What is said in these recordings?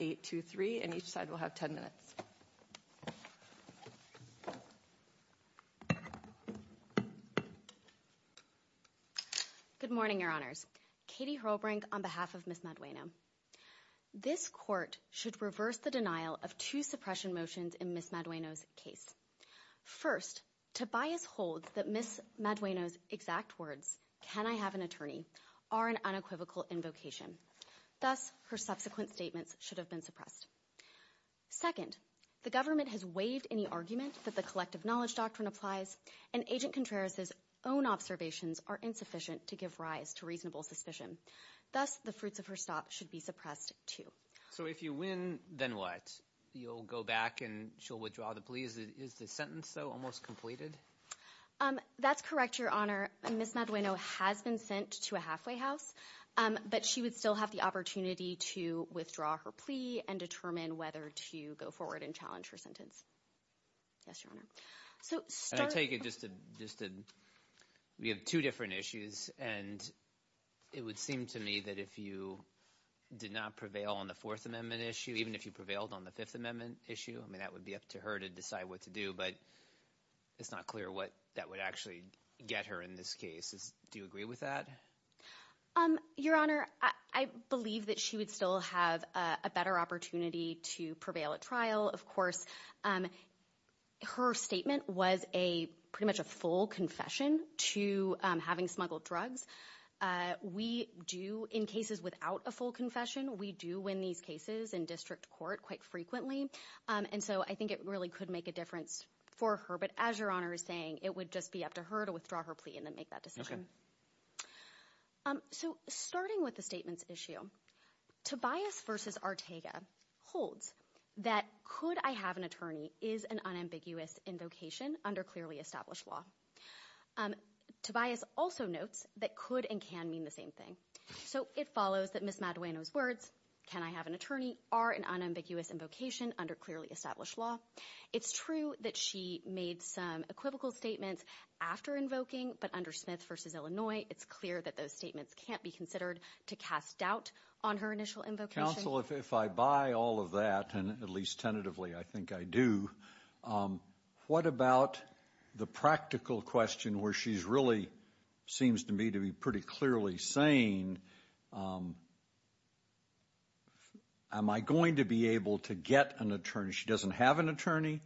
8, 2, 3, and each side will have 10 minutes. Good morning, your honors. Katie Herlbrink on behalf of Ms. Madueno. This court should reverse the denial of two suppression motions in Ms. Madueno's case. First, Tobias holds that Ms. Madueno's exact words, can I have an attorney, are an unequivocal invocation. Thus, her subsequent statements should have been suppressed. Second, the government has waived any argument that the collective knowledge doctrine applies and Agent Contreras' own observations are insufficient to give rise to reasonable suspicion. Thus, the fruits of her stop should be suppressed too. So if you win, then what? You'll go back and she'll withdraw the plea? Is the sentence, though, almost completed? Um, that's correct, your honor. Ms. Madueno has been sent to a halfway house, but she would still have the opportunity to withdraw her plea and determine whether to go forward and challenge her sentence. Yes, your honor. We have two different issues and it would seem to me that if you did not prevail on the Fourth Amendment issue, even if you prevailed on the Fifth Amendment issue, I mean, that would be up to her to decide what to do, but it's not clear what that would actually get her in this case. Do you agree with that? Your honor, I believe that she would still have a better opportunity to prevail at trial. Of course, her statement was a pretty much a full confession to having smuggled drugs. We do in cases without a full confession, we do win these cases in district court quite frequently. And so I think it really could make a difference for her, but as your honor is saying, it would just be up to her to withdraw her plea and then make that decision. So starting with the statement's issue, Tobias versus Ortega holds that could I have an attorney is an unambiguous invocation under clearly established law. Tobias also notes that could and can mean the same thing. So it follows that Ms. Madueno's words, can I have an attorney, are an unambiguous invocation under clearly established law. It's true that she made some equivocal statements after invoking, but under Smith versus Illinois, it's clear that those statements can't be considered to cast doubt on her initial invocation. Counsel, if I buy all of that, and at least tentatively, I think I do, what about the practical question where she's really seems to me to be pretty clearly saying am I going to be able to get an attorney? She doesn't have an attorney,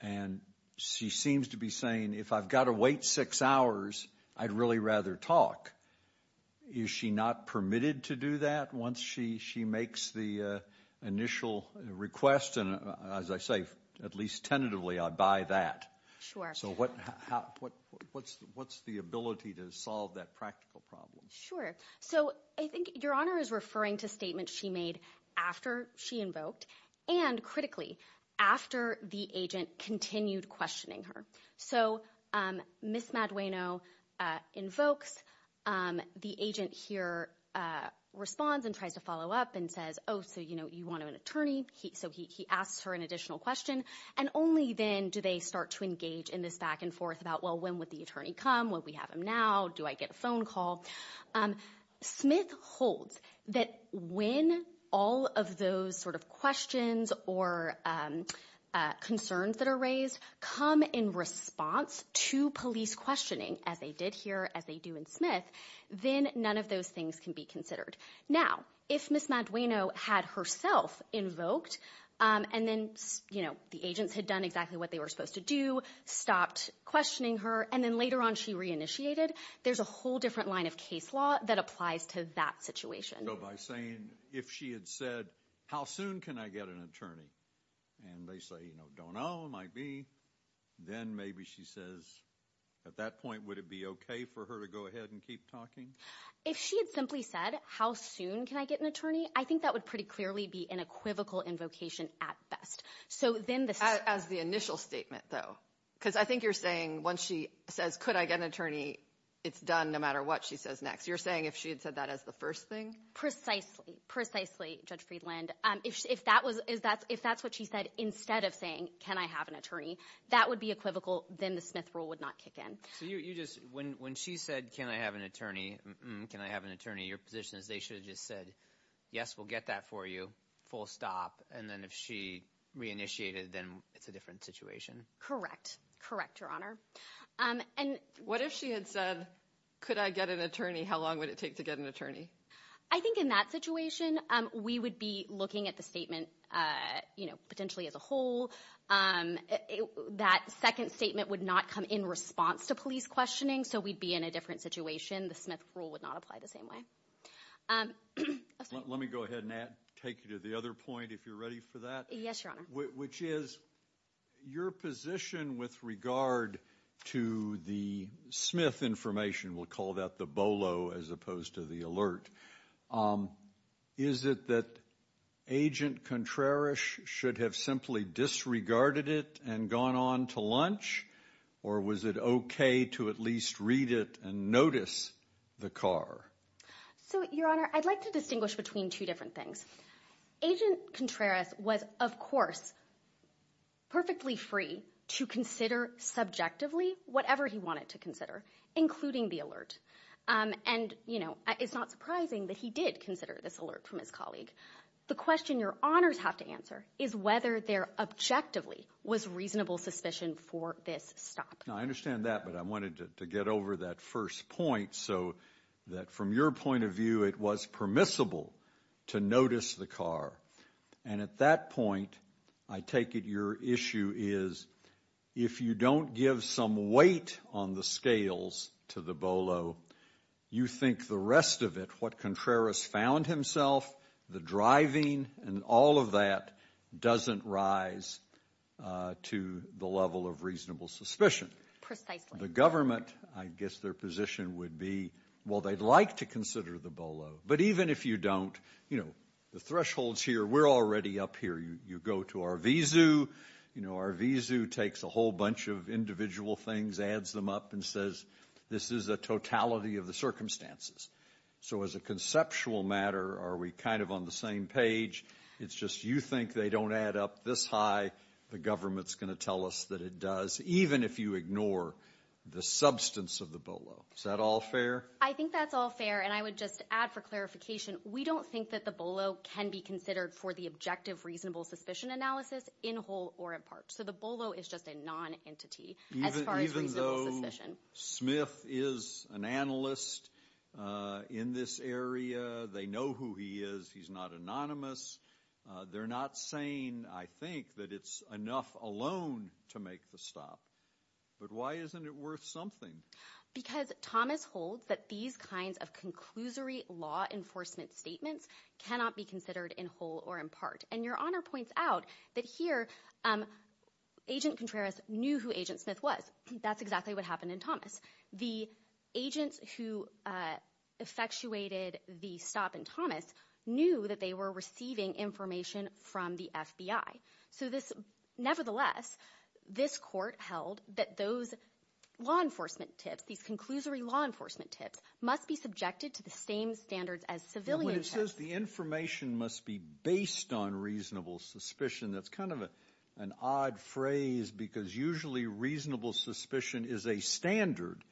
and she seems to be saying if I've got to wait six hours, I'd really rather talk. Is she not permitted to do that once she makes the initial request? And as I say, at least tentatively, I'd buy that. So what's the ability to solve that practical problem? Sure. So I think Your Honor is referring to statements she made after she invoked, and critically, after the agent continued questioning her. So Ms. Madueno invokes, the agent here responds and tries to follow up and says, oh, so you want an attorney? So he asks her an additional question, and only then do they start to engage in this back and forth about, well, when would the attorney come? Will we have him now? Do I get a phone call? Smith holds that when all of those sort of questions or concerns that are raised come in response to police questioning, as they did here, as they do in Smith, then none of those things can be considered. Now, if Ms. Madueno had herself invoked, and then the agents had done exactly what they were supposed to do, stopped questioning her, and then later on she reinitiated, there's a whole different line of case law that applies to that situation. So by saying, if she had said, how soon can I get an attorney? And they say, you know, don't know, might be. Then maybe she says, at that point, would it be okay for her to go ahead and keep talking? If she had simply said, how soon can I get an attorney? I think that would pretty clearly be an equivocal invocation at best. So then the- As the initial statement, though. Because I think you're saying, once she says, could I get an attorney? It's done no matter what she says next. You're saying if she had said that as the first thing? Precisely. Precisely, Judge Friedland. If that's what she said, instead of saying, can I have an attorney? That would be equivocal. Then the Smith rule would not kick in. So you just, when she said, can I have an attorney? Can I have an attorney? Your position is they should have just said, yes, we'll get that for you. Full stop. And then if she reinitiated, then it's a different situation. Correct. Correct, Your Honor. And- What if she had said, could I get an attorney? How long would it take to get an attorney? I think in that situation, we would be looking at the statement potentially as a whole. That second statement would not come in response to police questioning. So we'd be in a different situation. The Smith rule would not apply the same way. Let me go ahead and take you to the other point, if you're ready for that. Yes, Your Honor. Which is, your position with regard to the Smith information, we'll call that the BOLO as opposed to the alert. Is it that Agent Contreras should have simply disregarded it and gone on to lunch? Or was it okay to at least read it and notice the car? So, Your Honor, I'd like to distinguish between two different things. Agent Contreras was, of course, perfectly free to consider subjectively whatever he wanted to consider, including the alert. And it's not surprising that he did consider this alert from his colleague. The question Your Honors have to answer is whether there objectively was reasonable suspicion for this stop. Now, I understand that, but I wanted to get over that first point so that from your point of view, it was permissible to notice the car. And at that point, I take it your issue is, if you don't give some weight on the scales to the BOLO, you think the rest of it, what Contreras found himself, the driving, and all of that doesn't rise to the level of reasonable suspicion. Precisely. The government, I guess their position would be, well, they'd like to consider the BOLO. But even if you don't, you know, the thresholds here, we're already up here. You go to Arvizu, you know, Arvizu takes a whole bunch of individual things, adds them up and says, this is a totality of the circumstances. So as a conceptual matter, are we kind of on the same page? It's just you think they don't add up this high, the government's going to tell us that it does. Even if you ignore the substance of the BOLO. Is that all fair? I think that's all fair. And I would just add for clarification, we don't think that the BOLO can be considered for the objective, reasonable suspicion analysis in whole or in part. So the BOLO is just a non-entity as far as reasonable suspicion. Even though Smith is an analyst in this area, they know who he is, he's not anonymous. They're not saying, I think, that it's enough alone to make the stop. But why isn't it worth something? Because Thomas holds that these kinds of conclusory law enforcement statements cannot be considered in whole or in part. And your honor points out that here, Agent Contreras knew who Agent Smith was. That's exactly what happened in Thomas. The agents who effectuated the stop in Thomas knew that they were receiving information from the FBI. So this, nevertheless, this court held that those law enforcement tips, these conclusory law enforcement tips, must be subjected to the same standards as civilian. When it says the information must be based on reasonable suspicion, that's kind of an odd phrase because usually reasonable suspicion is a standard.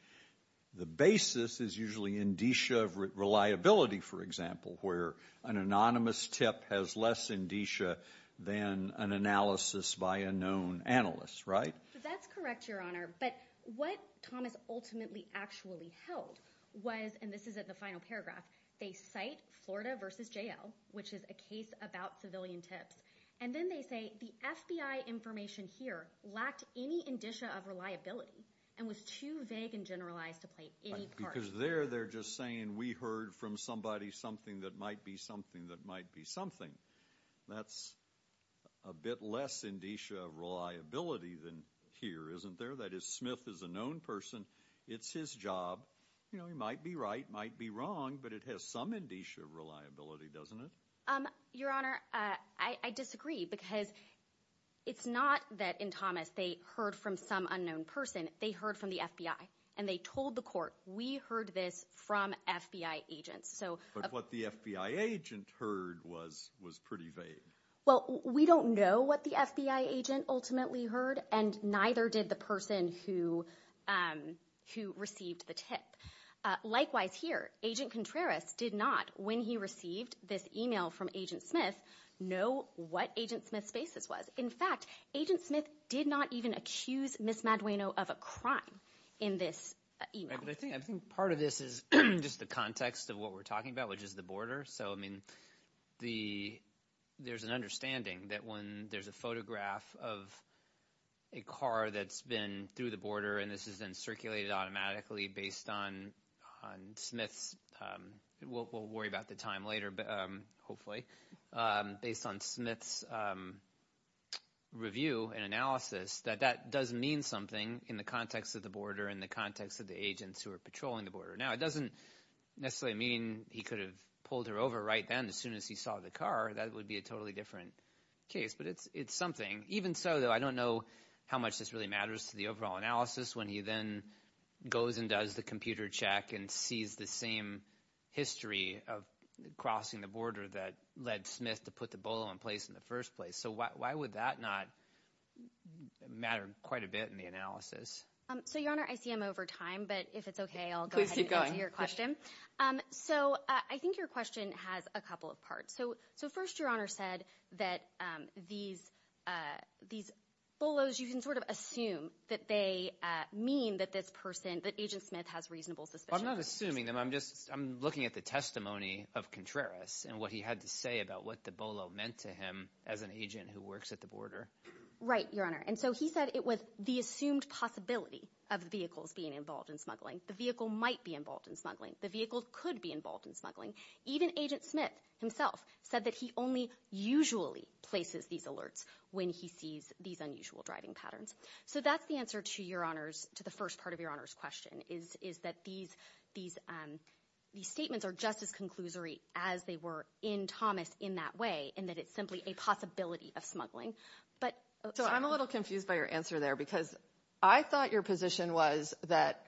The basis is usually indicia of reliability, for example, where an anonymous tip has less indicia than an analysis by a known analyst, right? That's correct, your honor. But what Thomas ultimately actually held was, and this is at the final paragraph, they cite Florida versus JL, which is a case about civilian tips. And then they say the FBI information here lacked any indicia of reliability and was too vague and generalized to play any part. Because there they're just saying we heard from somebody something that might be something that might be something. That's a bit less indicia of reliability than here, isn't there? That is, Smith is a known person. It's his job. You know, he might be right, might be wrong, but it has some indicia of reliability, doesn't it? Your honor, I disagree because it's not that in Thomas they heard from some unknown person. They heard from the FBI and they told the court, we heard this from FBI agents. But what the FBI agent heard was pretty vague. Well, we don't know what the FBI agent ultimately heard and neither did the person who received the tip. Likewise here, Agent Contreras did not, when he received this email from Agent Smith, know what Agent Smith's basis was. In fact, Agent Smith did not even accuse Ms. Madueno of a crime in this email. I think part of this is just the context of what we're talking about, which is the border. So, I mean, there's an understanding that when there's a photograph of a car that's been through the border and this has been circulated automatically based on Smith's, we'll worry about the time later, hopefully, based on Smith's review and analysis, that that does mean something in the context of the border, in the context of the agents who are patrolling the border. Now, it doesn't necessarily mean he could have pulled her over right then as soon as he saw the car. That would be a totally different case. But it's something. Even so, though, I don't know how much this really matters to the overall analysis when he then goes and does the computer check and sees the same history of crossing the border that led Smith to put the bolo in place in the first place. So why would that not matter quite a bit in the analysis? So, Your Honor, I see I'm over time, but if it's OK, I'll go ahead and answer your question. So I think your question has a couple of parts. So first, Your Honor said that these bolos, you can sort of assume that they mean that this person, that Agent Smith has reasonable suspicion. I'm not assuming them. I'm just I'm looking at the testimony of Contreras and what he had to say about what the bolo meant to him as an agent who works at the border. Right, Your Honor. And so he said it was the assumed possibility of the vehicles being involved in smuggling. The vehicle might be involved in smuggling. The vehicle could be involved in smuggling. Even Agent Smith himself said that he only usually places these alerts when he sees these unusual driving patterns. So that's the answer to Your Honor's, to the first part of Your Honor's question, is that these statements are just as conclusory as they were in Thomas in that way, and that it's simply a possibility of smuggling. So I'm a little confused by your answer there because I thought your position was that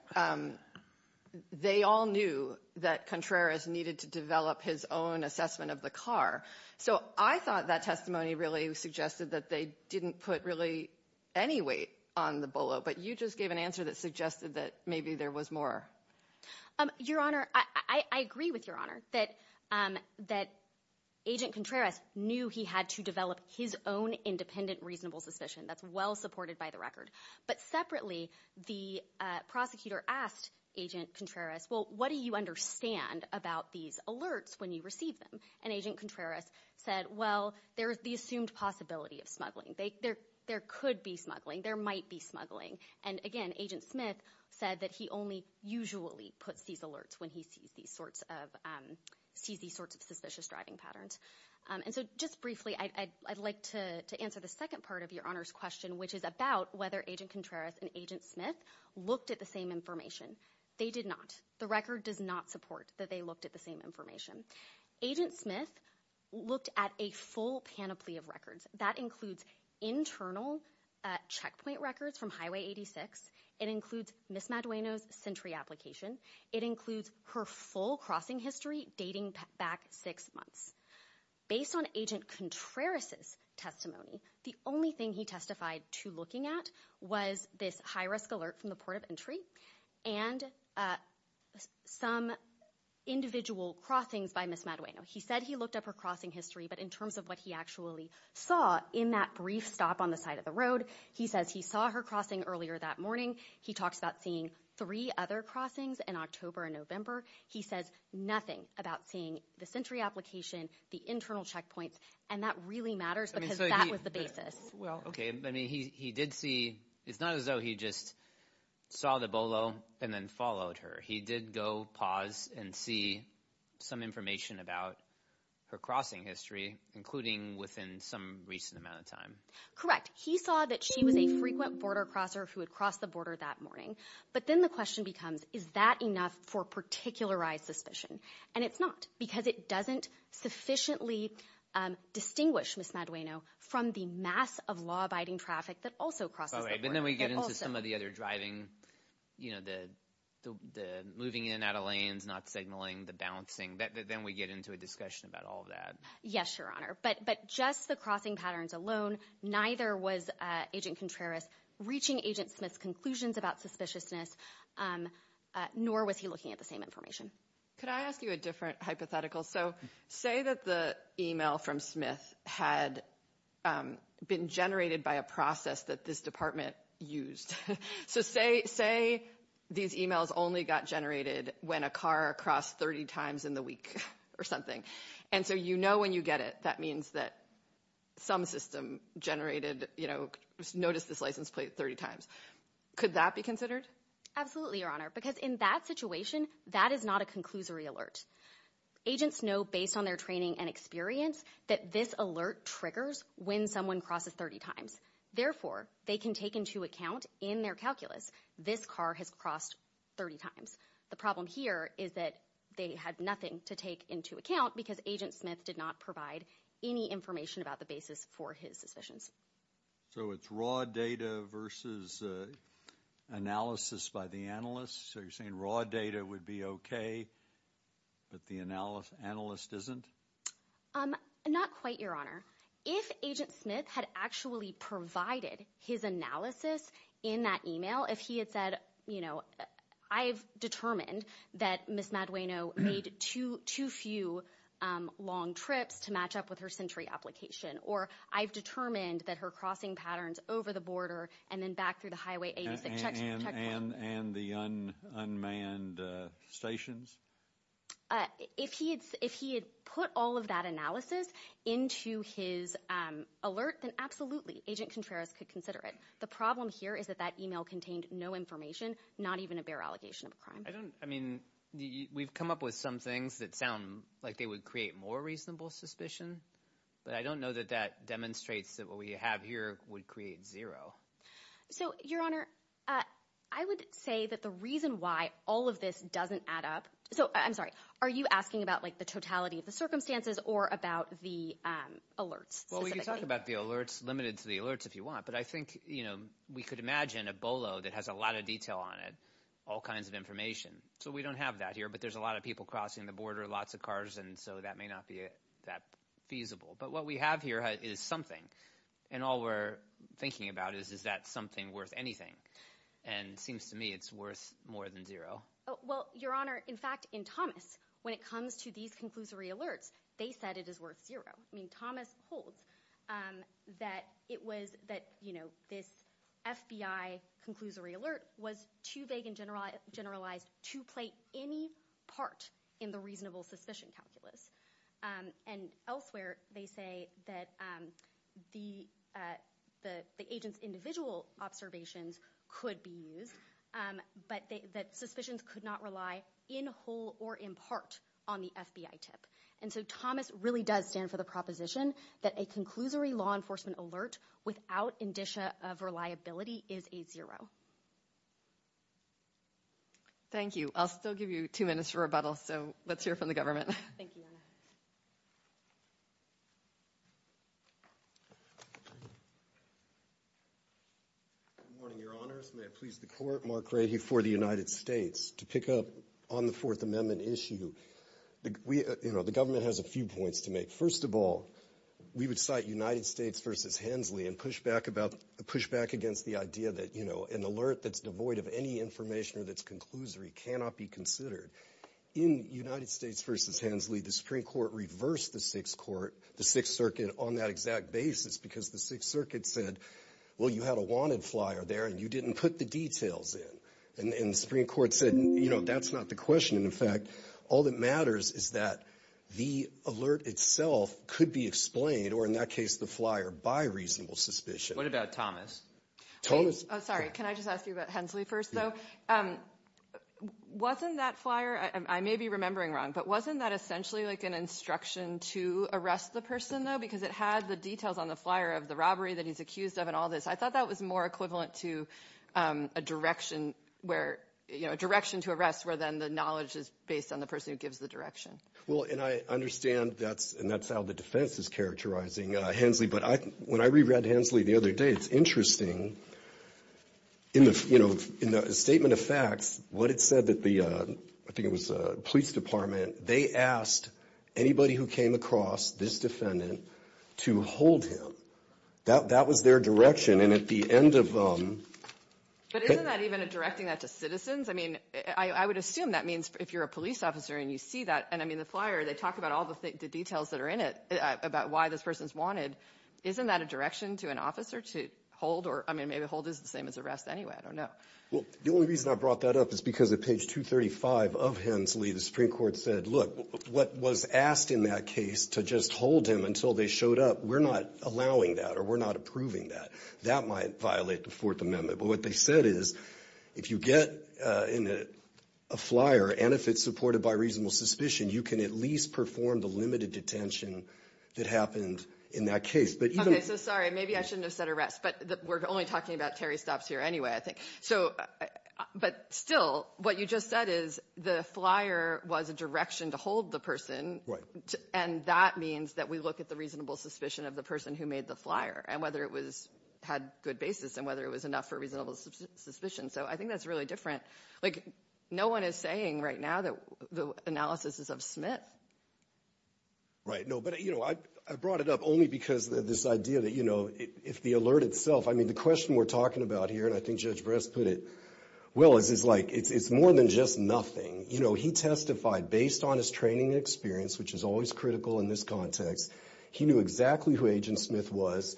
they all knew that Contreras needed to develop his own assessment of the car. So I thought that testimony really suggested that they didn't put really any weight on the bolo, but you just gave an answer that suggested that maybe there was more. Your Honor, I agree with Your Honor that Agent Contreras knew he had to develop his own independent reasonable suspicion. That's well supported by the record. But separately, the prosecutor asked Agent Contreras, well, what do you understand about these alerts when you receive them? And Agent Contreras said, well, there's the assumed possibility of smuggling. There could be smuggling. There might be smuggling. And again, Agent Smith said that he only usually puts these alerts when he sees these sorts of suspicious driving patterns. And so just briefly, I'd like to answer the second part of Your Honor's question, which is about whether Agent Contreras and Agent Smith looked at the same information. They did not. The record does not support that they looked at the same information. Agent Smith looked at a full panoply of records. That includes internal checkpoint records from Highway 86. It includes Ms. Madueno's sentry application. It includes her full crossing history dating back six months. Based on Agent Contreras' testimony, the only thing he testified to looking at was this high-risk alert from the port of entry and some individual crossings by Ms. Madueno. He said he looked up her crossing history, but in terms of what he actually saw in that brief stop on the side of the road, he says he saw her crossing earlier that morning. He talks about seeing three other crossings in October and November. He says nothing about seeing the sentry application, the internal checkpoints, and that really matters because that was the basis. Well, okay. I mean, he did see... It's not as though he just saw the bolo and then followed her. He did go pause and see some information about her crossing history, including within some recent amount of time. Correct. He saw that she was a frequent border crosser who had crossed the border that morning. But then the question becomes, is that enough for particularized suspicion? And it's not because it doesn't sufficiently distinguish Ms. Madueno from the mass of law-abiding traffic that also crosses the border. But then we get into some of the other driving, you know, the moving in and out of lanes, not signaling, the bouncing. Then we get into a discussion about all of that. Yes, Your Honor. But just the crossing patterns alone, neither was Agent Contreras reaching Agent Smith's conclusions about suspiciousness, nor was he looking at the same information. Could I ask you a different hypothetical? So say that the email from Smith had been generated by a process that this department used. So say these emails only got generated when a car crossed 30 times in the week or something. And so you know when you get it, that means that some system generated, you know, notice this license plate 30 times. Could that be considered? Absolutely, Your Honor. Because in that situation, that is not a conclusory alert. Agents know based on their training and experience that this alert triggers when someone crosses 30 times. Therefore, they can take into account in their calculus, this car has crossed 30 times. The problem here is that they had nothing to take into account because Agent Smith did not provide any information about the basis for his suspicions. So it's raw data versus analysis by the analyst. So you're saying raw data would be OK, but the analyst isn't? Not quite, Your Honor. If Agent Smith had actually provided his analysis in that email, if he had said, you know, I've determined that Ms. Madueno made too few long trips to match up with her sentry application, or I've determined that her crossing patterns over the border and then back through the Highway 86 checkpoint. And the unmanned stations? If he had put all of that analysis into his alert, then absolutely, Agent Contreras could consider it. The problem here is that that email contained no information, not even a bare allegation of a crime. I don't, I mean, we've come up with some things that sound like they would create more reasonable suspicion, but I don't know that that demonstrates that what we have here would create zero. So, Your Honor, I would say that the reason why all of this doesn't add up, so I'm sorry, are you asking about like the totality of the circumstances or about the alerts specifically? Well, we can talk about the alerts, limited to the alerts if you want, but I think, you know, we could imagine a BOLO that has a lot of detail on it, all kinds of information. So we don't have that here, but there's a lot of people crossing the border, lots of cars, and so that may not be that feasible. But what we have here is something, and all we're thinking about is, is that something worth anything? And it seems to me it's worth more than zero. Well, Your Honor, in fact, in Thomas, when it comes to these conclusory alerts, they said it is worth zero. I mean, Thomas holds that it was that, you know, this FBI conclusory alert was too vague and generalized to play any part in the reasonable suspicion calculus. And elsewhere, they say that the agent's individual observations could be used, but that suspicions could not rely in whole or in part on the FBI tip. And so Thomas really does stand for the proposition that a conclusory law enforcement alert without indicia of reliability is a zero. Thank you. I'll still give you two minutes for rebuttal. So let's hear from the government. Thank you. Good morning, Your Honors. May it please the Court, Mark Grady for the United States. To pick up on the Fourth Amendment issue, the government has a few points to make. First of all, we would cite United States versus Hensley and push back against the idea that, you know, an alert that's devoid of any information or that's conclusory cannot be considered. In United States versus Hensley, the Supreme Court reversed the Sixth Circuit on that exact basis because the Sixth Circuit said, well, you had a wanted flyer there and you didn't put the details in. And the Supreme Court said, you know, that's not the question. And in fact, all that matters is that the alert itself could be explained, or in that case, the flyer, by reasonable suspicion. What about Thomas? Sorry, can I just ask you about Hensley first, though? Wasn't that flyer, I may be remembering wrong, but wasn't that essentially like an instruction to arrest the person, though? Because it had the details on the flyer of the robbery that he's accused of and all this. I thought that was more equivalent to a direction where, you know, a direction to arrest where then the knowledge is based on the person who gives the direction. Well, and I understand that's and that's how the defense is characterizing Hensley. But when I reread Hensley the other day, it's interesting. In the, you know, in the statement of facts, what it said that the, I think it was a police department, they asked anybody who came across this defendant to hold him. That was their direction. And at the end of them. But isn't that even a directing that to citizens? I mean, I would assume that means if you're a police officer and you see that, and I mean, the flyer, they talk about all the details that are in it about why this person's wanted. Isn't that a direction to an officer to hold or I mean, maybe hold is the same as arrest anyway. I don't know. Well, the only reason I brought that up is because of page 235 of Hensley. The Supreme Court said, look, what was asked in that case to just hold him until they showed up. We're not allowing that or we're not approving that. That might violate the fourth amendment. But what they said is, if you get in a flyer and if it's supported by reasonable suspicion, you can at least perform the limited detention that happened in that case. But even. So sorry, maybe I shouldn't have said arrest, but we're only talking about Terry stops here anyway, I think. But still, what you just said is the flyer was a direction to hold the person. And that means that we look at the reasonable suspicion of the person who made the flyer and whether it had good basis and whether it was enough for reasonable suspicion. So I think that's really different. Like no one is saying right now that the analysis is of Smith. Right, no, but I brought it up only because of this idea that, you know, if the alert itself, I mean, the question we're talking about here, and I think Judge Bress put it well, is like, it's more than just nothing. You know, he testified based on his training experience, which is always critical in this context. He knew exactly who Agent Smith was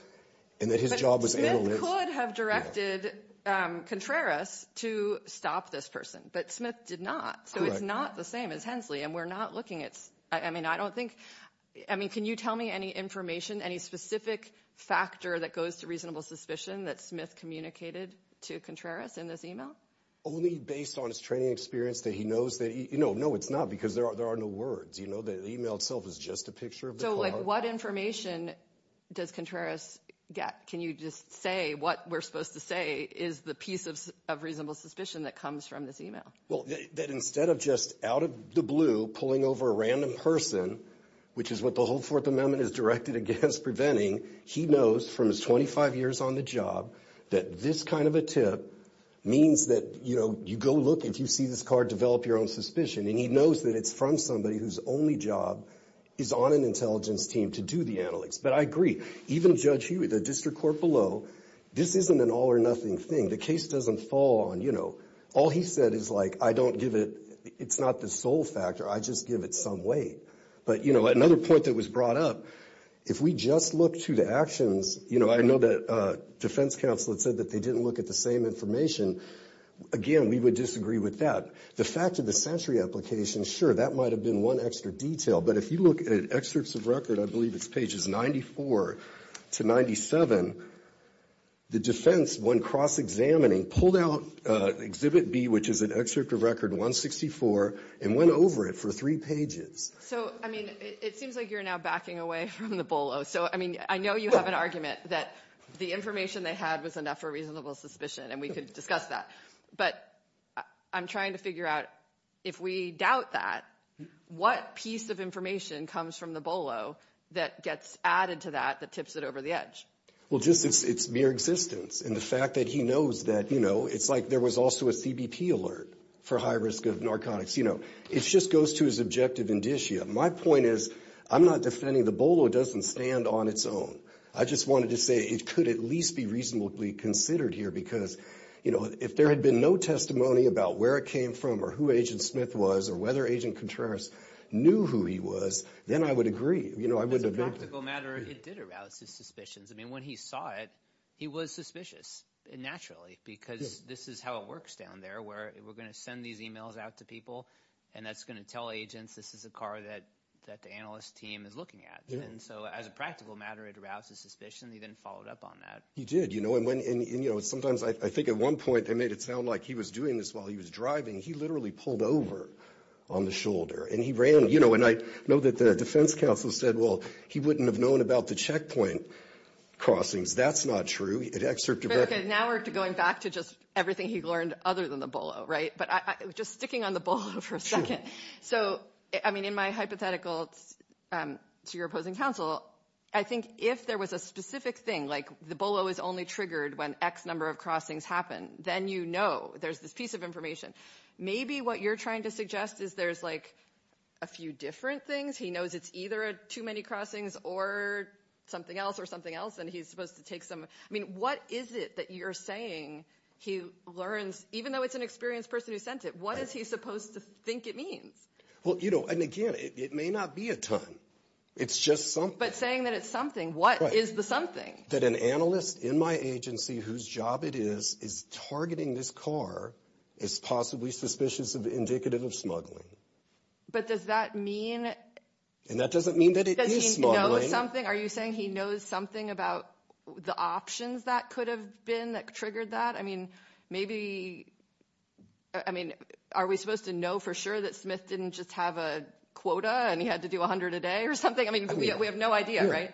and that his job was. Smith could have directed Contreras to stop this person, but Smith did not. So it's not the same as Hensley. And we're not looking at, I mean, I don't think, I mean, can you tell me any information, any specific factor that goes to reasonable suspicion that Smith communicated to Contreras in this email? Only based on his training experience that he knows that, you know, no, it's not, because there are no words. You know, the email itself is just a picture of the car. So like what information does Contreras get? Can you just say what we're supposed to say is the piece of reasonable suspicion that comes from this email? Well, that instead of just out of the blue pulling over a random person, which is what the whole Fourth Amendment is directed against preventing, he knows from his 25 years on the job that this kind of a tip means that, you know, you go look, if you see this car, develop your own suspicion. And he knows that it's from somebody whose only job is on an intelligence team to do the analytics. But I agree, even Judge Huey, the district court below, this isn't an all or nothing thing. The case doesn't fall on, you know, all he said is like, I don't give it, it's not the sole factor. I just give it some weight. But, you know, another point that was brought up, if we just look to the actions, you know, I know that defense counsel had said that they didn't look at the same information. Again, we would disagree with that. The fact of the century application, sure, that might've been one extra detail. But if you look at excerpts of record, I believe it's pages 94 to 97, the defense, when cross-examining, pulled out exhibit B, which is an excerpt of record 164, and went over it for three pages. So, I mean, it seems like you're now backing away from the BOLO. So, I mean, I know you have an argument that the information they had was enough for reasonable suspicion, and we could discuss that. But I'm trying to figure out, if we doubt that, what piece of information comes from the BOLO that gets added to that, that tips it over the edge? Well, just it's mere existence. And the fact that he knows that, you know, it's like there was also a CBP alert for high risk of narcotics. It just goes to his objective indicia. My point is, I'm not defending the BOLO. It doesn't stand on its own. I just wanted to say, it could at least be reasonably considered here, because if there had been no testimony about where it came from, or who Agent Smith was, or whether Agent Contreras knew who he was, then I would agree. You know, I wouldn't have been- As a practical matter, it did arouse his suspicions. I mean, when he saw it, he was suspicious, naturally, because this is how it works down there, where we're going to send these emails out to people, and that's going to tell agents, this is a car that the analyst team is looking at. And so as a practical matter, it aroused his suspicion. He then followed up on that. He did, you know, and when, and you know, sometimes I think at one point, they made it sound like he was doing this while he was driving. He literally pulled over on the shoulder, and he ran, you know, and I know that the defense counsel said, well, he wouldn't have known about the checkpoint crossings. That's not true. Now we're going back to just everything he learned other than the BOLO, right? But just sticking on the BOLO for a second. So I mean, in my hypothetical to your opposing counsel, I think if there was a specific thing, like the BOLO is only triggered when X number of crossings happen, then you know there's this piece of information. Maybe what you're trying to suggest is there's like a few different things. He knows it's either too many crossings or something else or something else, and he's supposed to take some. I mean, what is it that you're saying he learns, even though it's an experienced person who sent it, what is he supposed to think it means? Well, you know, and again, it may not be a ton. It's just something. But saying that it's something, what is the something? That an analyst in my agency whose job it is, is targeting this car, is possibly suspicious of indicative of smuggling. But does that mean? And that doesn't mean that it is smuggling. Are you saying he knows something about the options that could have been that triggered that? I mean, maybe. I mean, are we supposed to know for sure that Smith didn't just have a quota and he had to do 100 a day or something? I mean, we have no idea, right?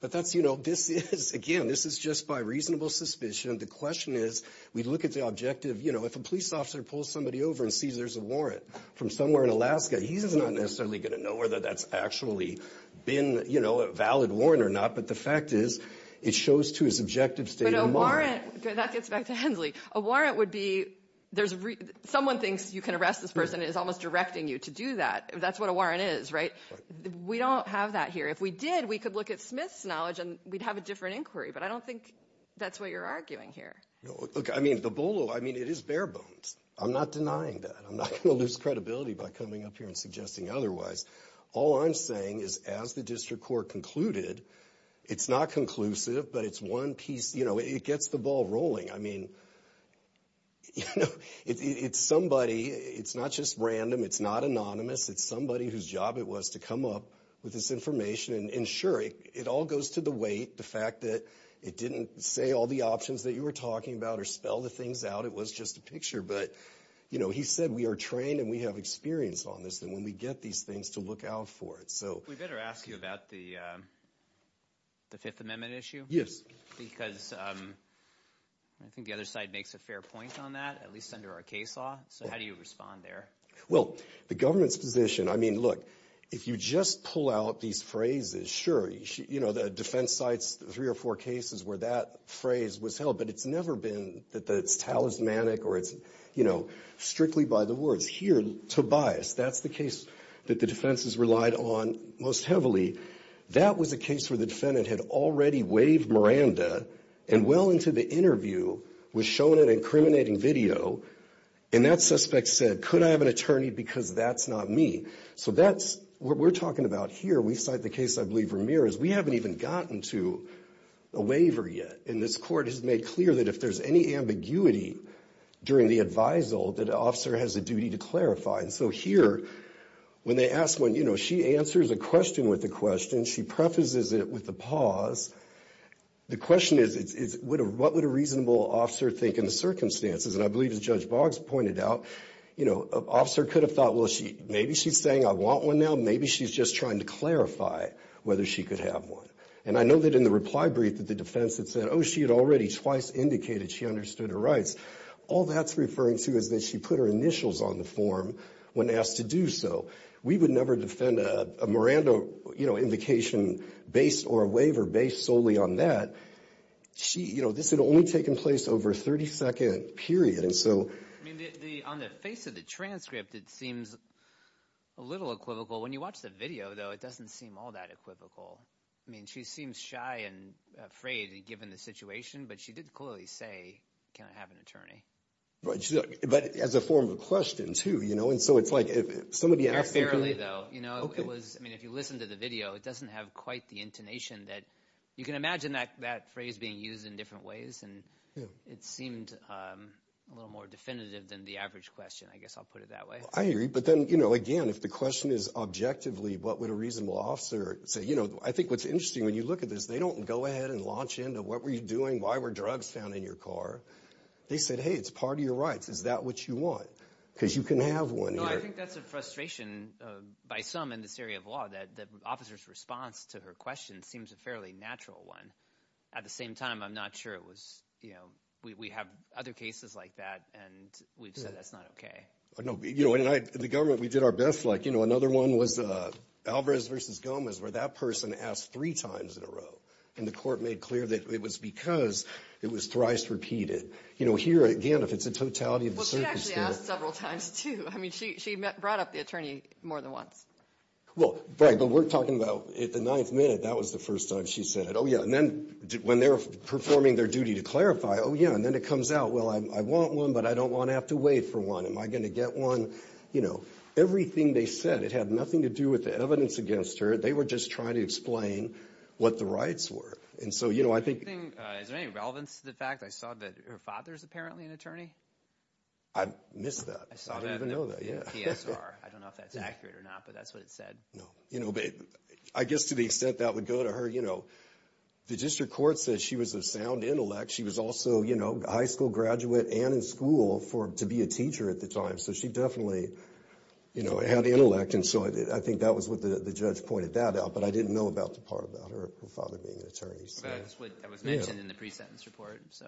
But that's, you know, this is again, this is just by reasonable suspicion. The question is, we look at the objective, you know, if a police officer pulls somebody over and sees there's a warrant from somewhere in Alaska, he's not necessarily going to know whether that's actually been, you know, a valid warrant or not. But the fact is, it shows to his objective state. That gets back to Hensley. A warrant would be, there's someone thinks you can arrest this person is almost directing you to do that. That's what a warrant is, right? We don't have that here. If we did, we could look at Smith's knowledge and we'd have a different inquiry. But I don't think that's what you're arguing here. No, look, I mean, the bolo, I mean, it is bare bones. I'm not denying that. I'm not going to lose credibility by coming up here and suggesting otherwise. All I'm saying is, as the district court concluded, it's not conclusive, but it's one piece, you know, it gets the ball rolling. I mean, you know, it's somebody, it's not just random. It's not anonymous. It's somebody whose job it was to come up with this information and ensure it all goes to the weight. The fact that it didn't say all the options that you were talking about or spell the things out. It was just a picture. But, you know, he said, we are trained and we have experience on this. Then when we get these things to look out for it. So we better ask you about the fifth amendment issue. Because I think the other side makes a fair point on that, at least under our case law. So how do you respond there? Well, the government's position, I mean, look, if you just pull out these phrases, sure, you know, the defense sites, three or four cases where that phrase was held, but it's never been that it's talismanic or it's, you know, strictly by the words here, Tobias, that's the case that the defense has relied on most heavily. That was a case where the defendant had already waived Miranda and well into the interview was shown an incriminating video. And that suspect said, could I have an attorney? Because that's not me. So that's what we're talking about here. We cite the case. I believe Ramirez, we haven't even gotten to a waiver yet. And this court has made clear that if there's any ambiguity during the advisal, that officer has a duty to clarify. And so here, when they ask one, you know, she answers a question with the question. She prefaces it with the pause. The question is, is what would a reasonable officer think in the circumstances? And I believe as Judge Boggs pointed out, you know, an officer could have thought, well, maybe she's saying I want one now. Maybe she's just trying to clarify whether she could have one. And I know that in the reply brief that the defense had said, oh, she had already twice indicated she understood her rights. All that's referring to is that she put her initials on the form when asked to do so. We would never defend a Miranda, you know, invocation based or a waiver based solely on that. She, you know, this had only taken place over a 30-second period. And so. I mean, on the face of the transcript, it seems a little equivocal. When you watch the video, though, it doesn't seem all that equivocal. I mean, she seems shy and afraid, given the situation. But she did clearly say, can I have an attorney? But as a form of question, too, you know? And so it's like if somebody asked fairly, though, you know, it was, I mean, if you listen to the video, it doesn't have quite the intonation that you can imagine that that phrase being used in different ways. And it seemed a little more definitive than the average question. I guess I'll put it that way. I agree. But then, you know, again, if the question is objectively, what would a reasonable officer say? You know, I think what's interesting when you look at this, they don't go ahead and launch into what were you doing? Why were drugs found in your car? They said, hey, it's part of your rights. Is that what you want? Because you can have one. No, I think that's a frustration by some in this area of law, that the officer's response to her question seems a fairly natural one. At the same time, I'm not sure it was, you know, we have other cases like that. And we've said that's not OK. I know, you know, and I, the government, we did our best. Like, you know, another one was Alvarez versus Gomez, where that person asked three times in a row. And the court made clear that it was because it was thrice repeated. You know, here again, if it's a totality of the circumstance. Well, she actually asked several times, too. She brought up the attorney more than once. Well, but we're talking about at the ninth minute. That was the first time she said it. Oh, yeah. And then when they're performing their duty to clarify, oh, yeah. And then it comes out, well, I want one, but I don't want to have to wait for one. Am I going to get one? You know, everything they said, it had nothing to do with the evidence against her. They were just trying to explain what the rights were. And so, you know, I think. Is there any relevance to the fact I saw that her father's apparently an attorney? I missed that. I don't even know that. Yeah, I don't know if that's accurate or not, but that's what it said. No, you know, I guess to the extent that would go to her, you know, the district court says she was of sound intellect. She was also, you know, high school graduate and in school for to be a teacher at the time. So she definitely, you know, had the intellect. And so I think that was what the judge pointed that out. But I didn't know about the part about her father being an attorney. So that's what was mentioned in the pre-sentence report. So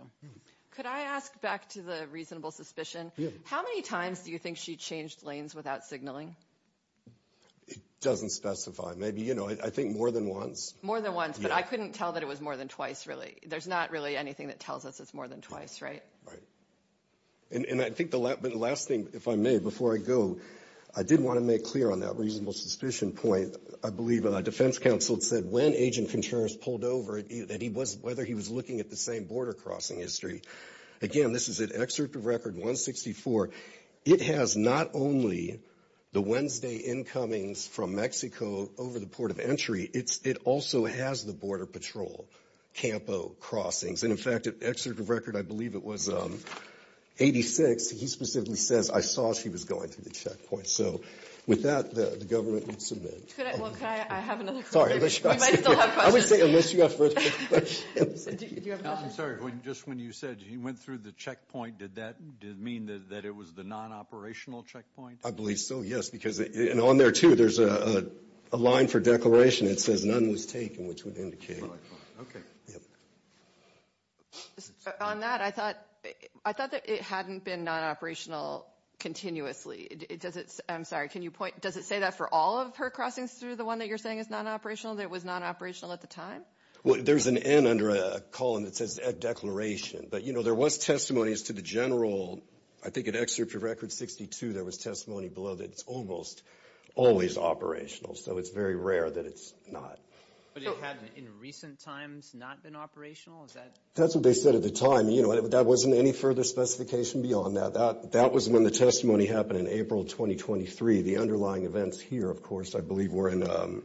could I ask back to the reasonable suspicion? How many times do you think she changed lanes without signaling? It doesn't specify. Maybe, you know, I think more than once. More than once. But I couldn't tell that it was more than twice, really. There's not really anything that tells us it's more than twice, right? Right. And I think the last thing, if I may, before I go, I did want to make clear on that reasonable suspicion point. I believe a defense counsel said when Agent Contreras pulled over, that he was whether he was looking at the same border crossing history. Again, this is an excerpt of record 164. It has not only the Wednesday incomings from Mexico over the port of entry, it also has the Border Patrol Campo crossings. And in fact, an excerpt of record, I believe it was 86. He specifically says, I saw she was going through the checkpoint. So with that, the government would submit. Could I, well, could I, I have another question. Sorry, let's try this again. We might still have questions. I would say, unless you have further questions. Do you have another? I'm sorry, just when you said you went through the checkpoint, did that mean that it was the non-operational checkpoint? I believe so, yes. Because, and on there too, there's a line for declaration. It says none was taken, which would indicate. Okay. On that, I thought that it hadn't been non-operational continuously. I'm sorry, can you point, does it say that for all of her crossings through the one that you're saying is non-operational, that it was non-operational at the time? Well, there's an N under a column that says declaration. But, you know, there was testimonies to the general, I think in Excerpture Record 62, there was testimony below that it's almost always operational. So it's very rare that it's not. But it hadn't in recent times not been operational? Is that? That's what they said at the time. You know, that wasn't any further specification beyond that. That was when the testimony happened in April 2023. The underlying events here, of course, I believe were in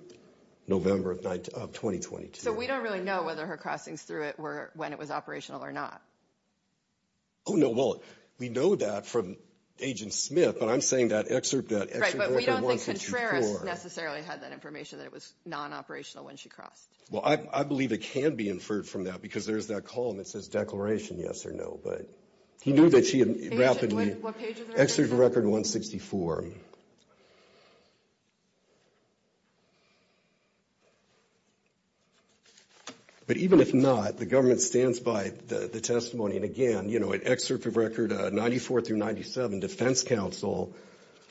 November of 2022. So we don't really know whether her crossings through it were when it was operational or not. Oh, no. Well, we know that from Agent Smith, but I'm saying that Excerpture Record 164. Right, but we don't think Contreras necessarily had that information that it was non-operational when she crossed. Well, I believe it can be inferred from that because there's that column that says declaration, yes or no. But he knew that she had wrapped in the Excerpture Record 164. But even if not, the government stands by the testimony. And again, you know, at Excerpture Record 94 through 97, Defense Counsel,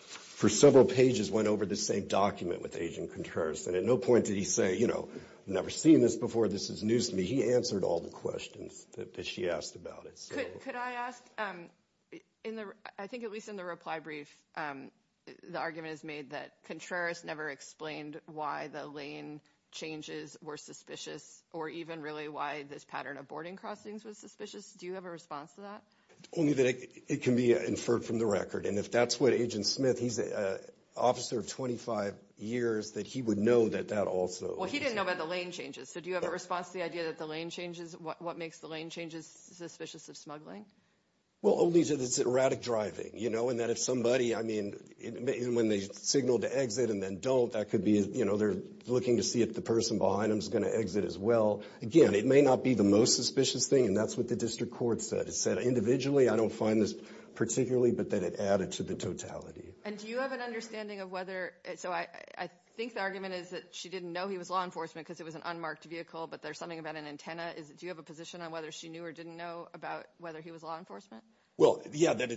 for several pages, went over the same document with Agent Contreras. And at no point did he say, you know, I've never seen this before. This is news to me. He answered all the questions that she asked about it. Could I ask, I think at least in the reply brief, the argument is made that Contreras never explained why the lane changes were suspicious or even really why this pattern of boarding crossings was suspicious. Do you have a response to that? Only that it can be inferred from the record. And if that's what Agent Smith, he's an officer of 25 years, that he would know that that also. Well, he didn't know about the lane changes. So do you have a response to the idea that the lane changes, what makes the lane changes suspicious of smuggling? Well, only that it's erratic driving, you know, and that if somebody, I mean, when they signal to exit and then don't, that could be, you know, they're looking to see if the person behind them is going to exit as well. Again, it may not be the most suspicious thing. And that's what the district court said. It said individually, I don't find this particularly, but that it added to the totality. And do you have an understanding of whether, so I think the argument is that she didn't know he was law enforcement because it was an unmarked vehicle, but there's something about an antenna. Do you have a position on whether she knew or didn't know about whether he was law enforcement? Well, yeah, that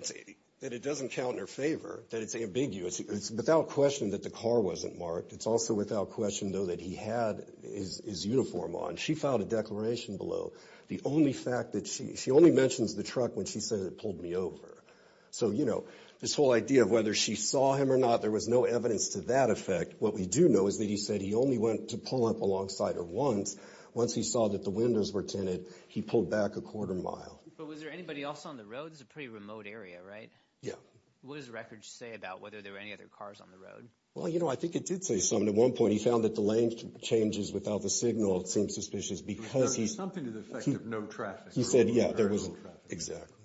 it doesn't count in her favor, that it's ambiguous. It's without question that the car wasn't marked. It's also without question, though, that he had his uniform on. She filed a declaration below. The only fact that she, she only mentions the truck when she says it pulled me over. So, you know, this whole idea of whether she saw him or not, there was no evidence to that effect. What we do know is that he said he only went to pull up alongside her once, once he saw that the windows were tinted, he pulled back a quarter mile. But was there anybody else on the road? It's a pretty remote area, right? Yeah. What does the record say about whether there were any other cars on the road? Well, you know, I think it did say something. At one point, he found that the lane changes without the signal. It seemed suspicious because he... Something to the effect of no traffic. He said, yeah, there was... Exactly.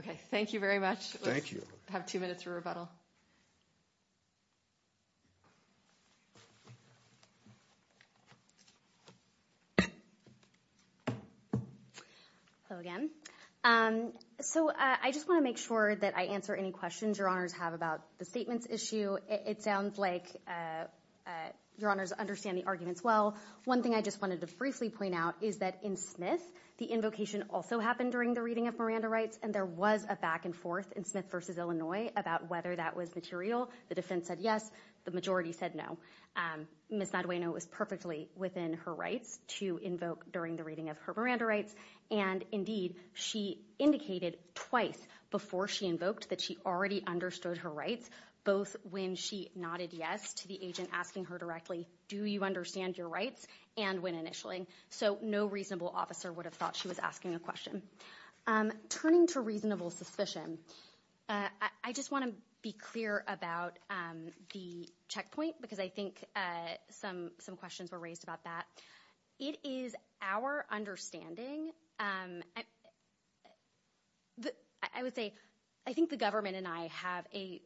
Okay, thank you very much. Thank you. Have two minutes for rebuttal. Hello again. So I just want to make sure that I answer any questions your honors have about the statements issue. It sounds like your honors understand the arguments well. One thing I just wanted to briefly point out is that in Smith, the invocation also happened during the reading of Miranda Rights, and there was a back and forth in Smith versus Illinois about whether that was material. The defense said yes. The majority said no. Ms. Madueno was perfectly within her rights to invoke during the reading of her Miranda Rights. And indeed, she indicated twice before she invoked that she already understood her rights, both when she nodded yes to the agent asking her directly, do you understand your rights? And when initialling. So no reasonable officer would have thought she was asking a question. Turning to reasonable suspicion, I just want to be clear about the checkpoint, because I think some questions were raised about that. It is our understanding, I would say, I think the government and I have a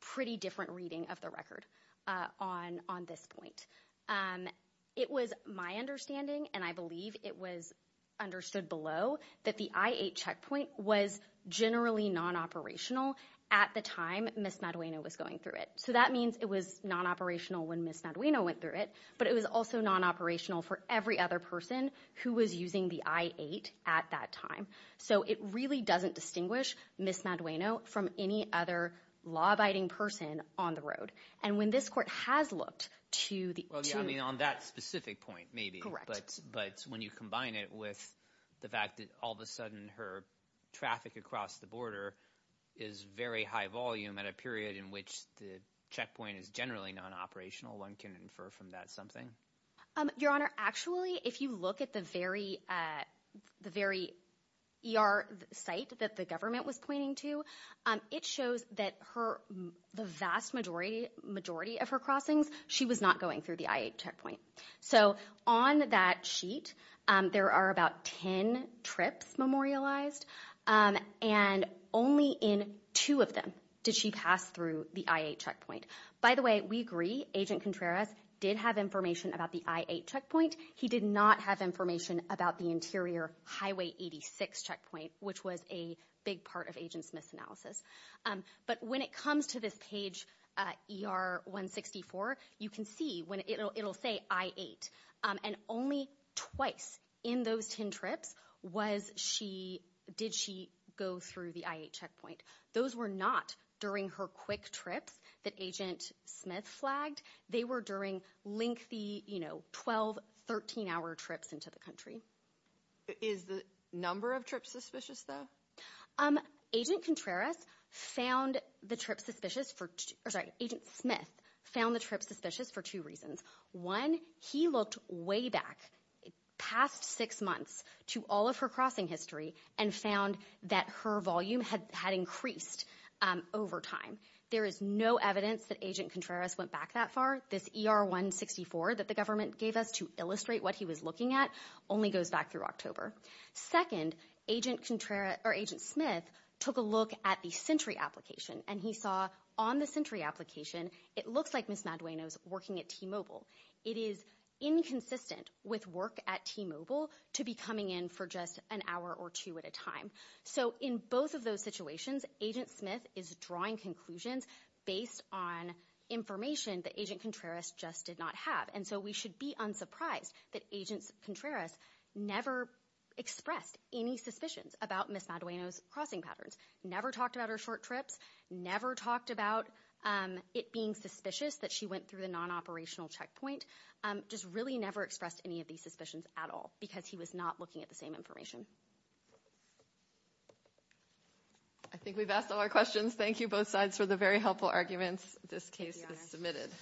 pretty different reading of the record on this point. It was my understanding, and I believe it was understood below that the I-8 checkpoint was generally non-operational at the time Ms. Madueno was going through it. So that means it was non-operational when Ms. Madueno went through it, but it was also non-operational for every other person who was using the I-8 at that time. So it really doesn't distinguish Ms. Madueno from any other law-abiding person on the road. And when this court has looked to the- Well, yeah, I mean, on that specific point, maybe. But when you combine it with the fact that all of a sudden her traffic across the border is very high volume at a period in which the checkpoint is generally non-operational, one can infer from that something. Your Honor, actually, if you look at the very ER site that the government was pointing to, it shows that the vast majority of her crossings, she was not going through the I-8 checkpoint. So on that sheet, there are about 10 trips memorialized, and only in two of them did she pass through the I-8 checkpoint. By the way, we agree Agent Contreras did have information about the I-8 checkpoint. He did not have information about the interior Highway 86 checkpoint, which was a big part of Agent Smith's analysis. But when it comes to this page ER-164, you can see when it'll say I-8. And only twice in those 10 trips did she go through the I-8 checkpoint. Those were not during her quick trips that Agent Smith flagged. They were during lengthy 12, 13-hour trips into the country. Is the number of trips suspicious, though? Agent Contreras found the trips suspicious for... Agent Smith found the trips suspicious for two reasons. One, he looked way back past six months to all of her crossing history and found that her volume had increased over time. There is no evidence that Agent Contreras went back that far. This ER-164 that the government gave us to illustrate what he was looking at only goes back through October. Second, Agent Smith took a look at the Sentry application, and he saw on the Sentry application, it looks like Ms. Madueno's working at T-Mobile. It is inconsistent with work at T-Mobile to be coming in for just an hour or two at a time. So in both of those situations, Agent Smith is drawing conclusions based on information that Agent Contreras just did not have. And so we should be unsurprised that Agent Contreras never expressed any suspicions about Ms. Madueno's crossing patterns, never talked about her short trips, never talked about it being suspicious that she went through the non-operational checkpoint, just really never expressed any of these suspicions at all because he was not looking at the same information. I think we've asked all our questions. Thank you both sides for the very helpful arguments. This case is submitted.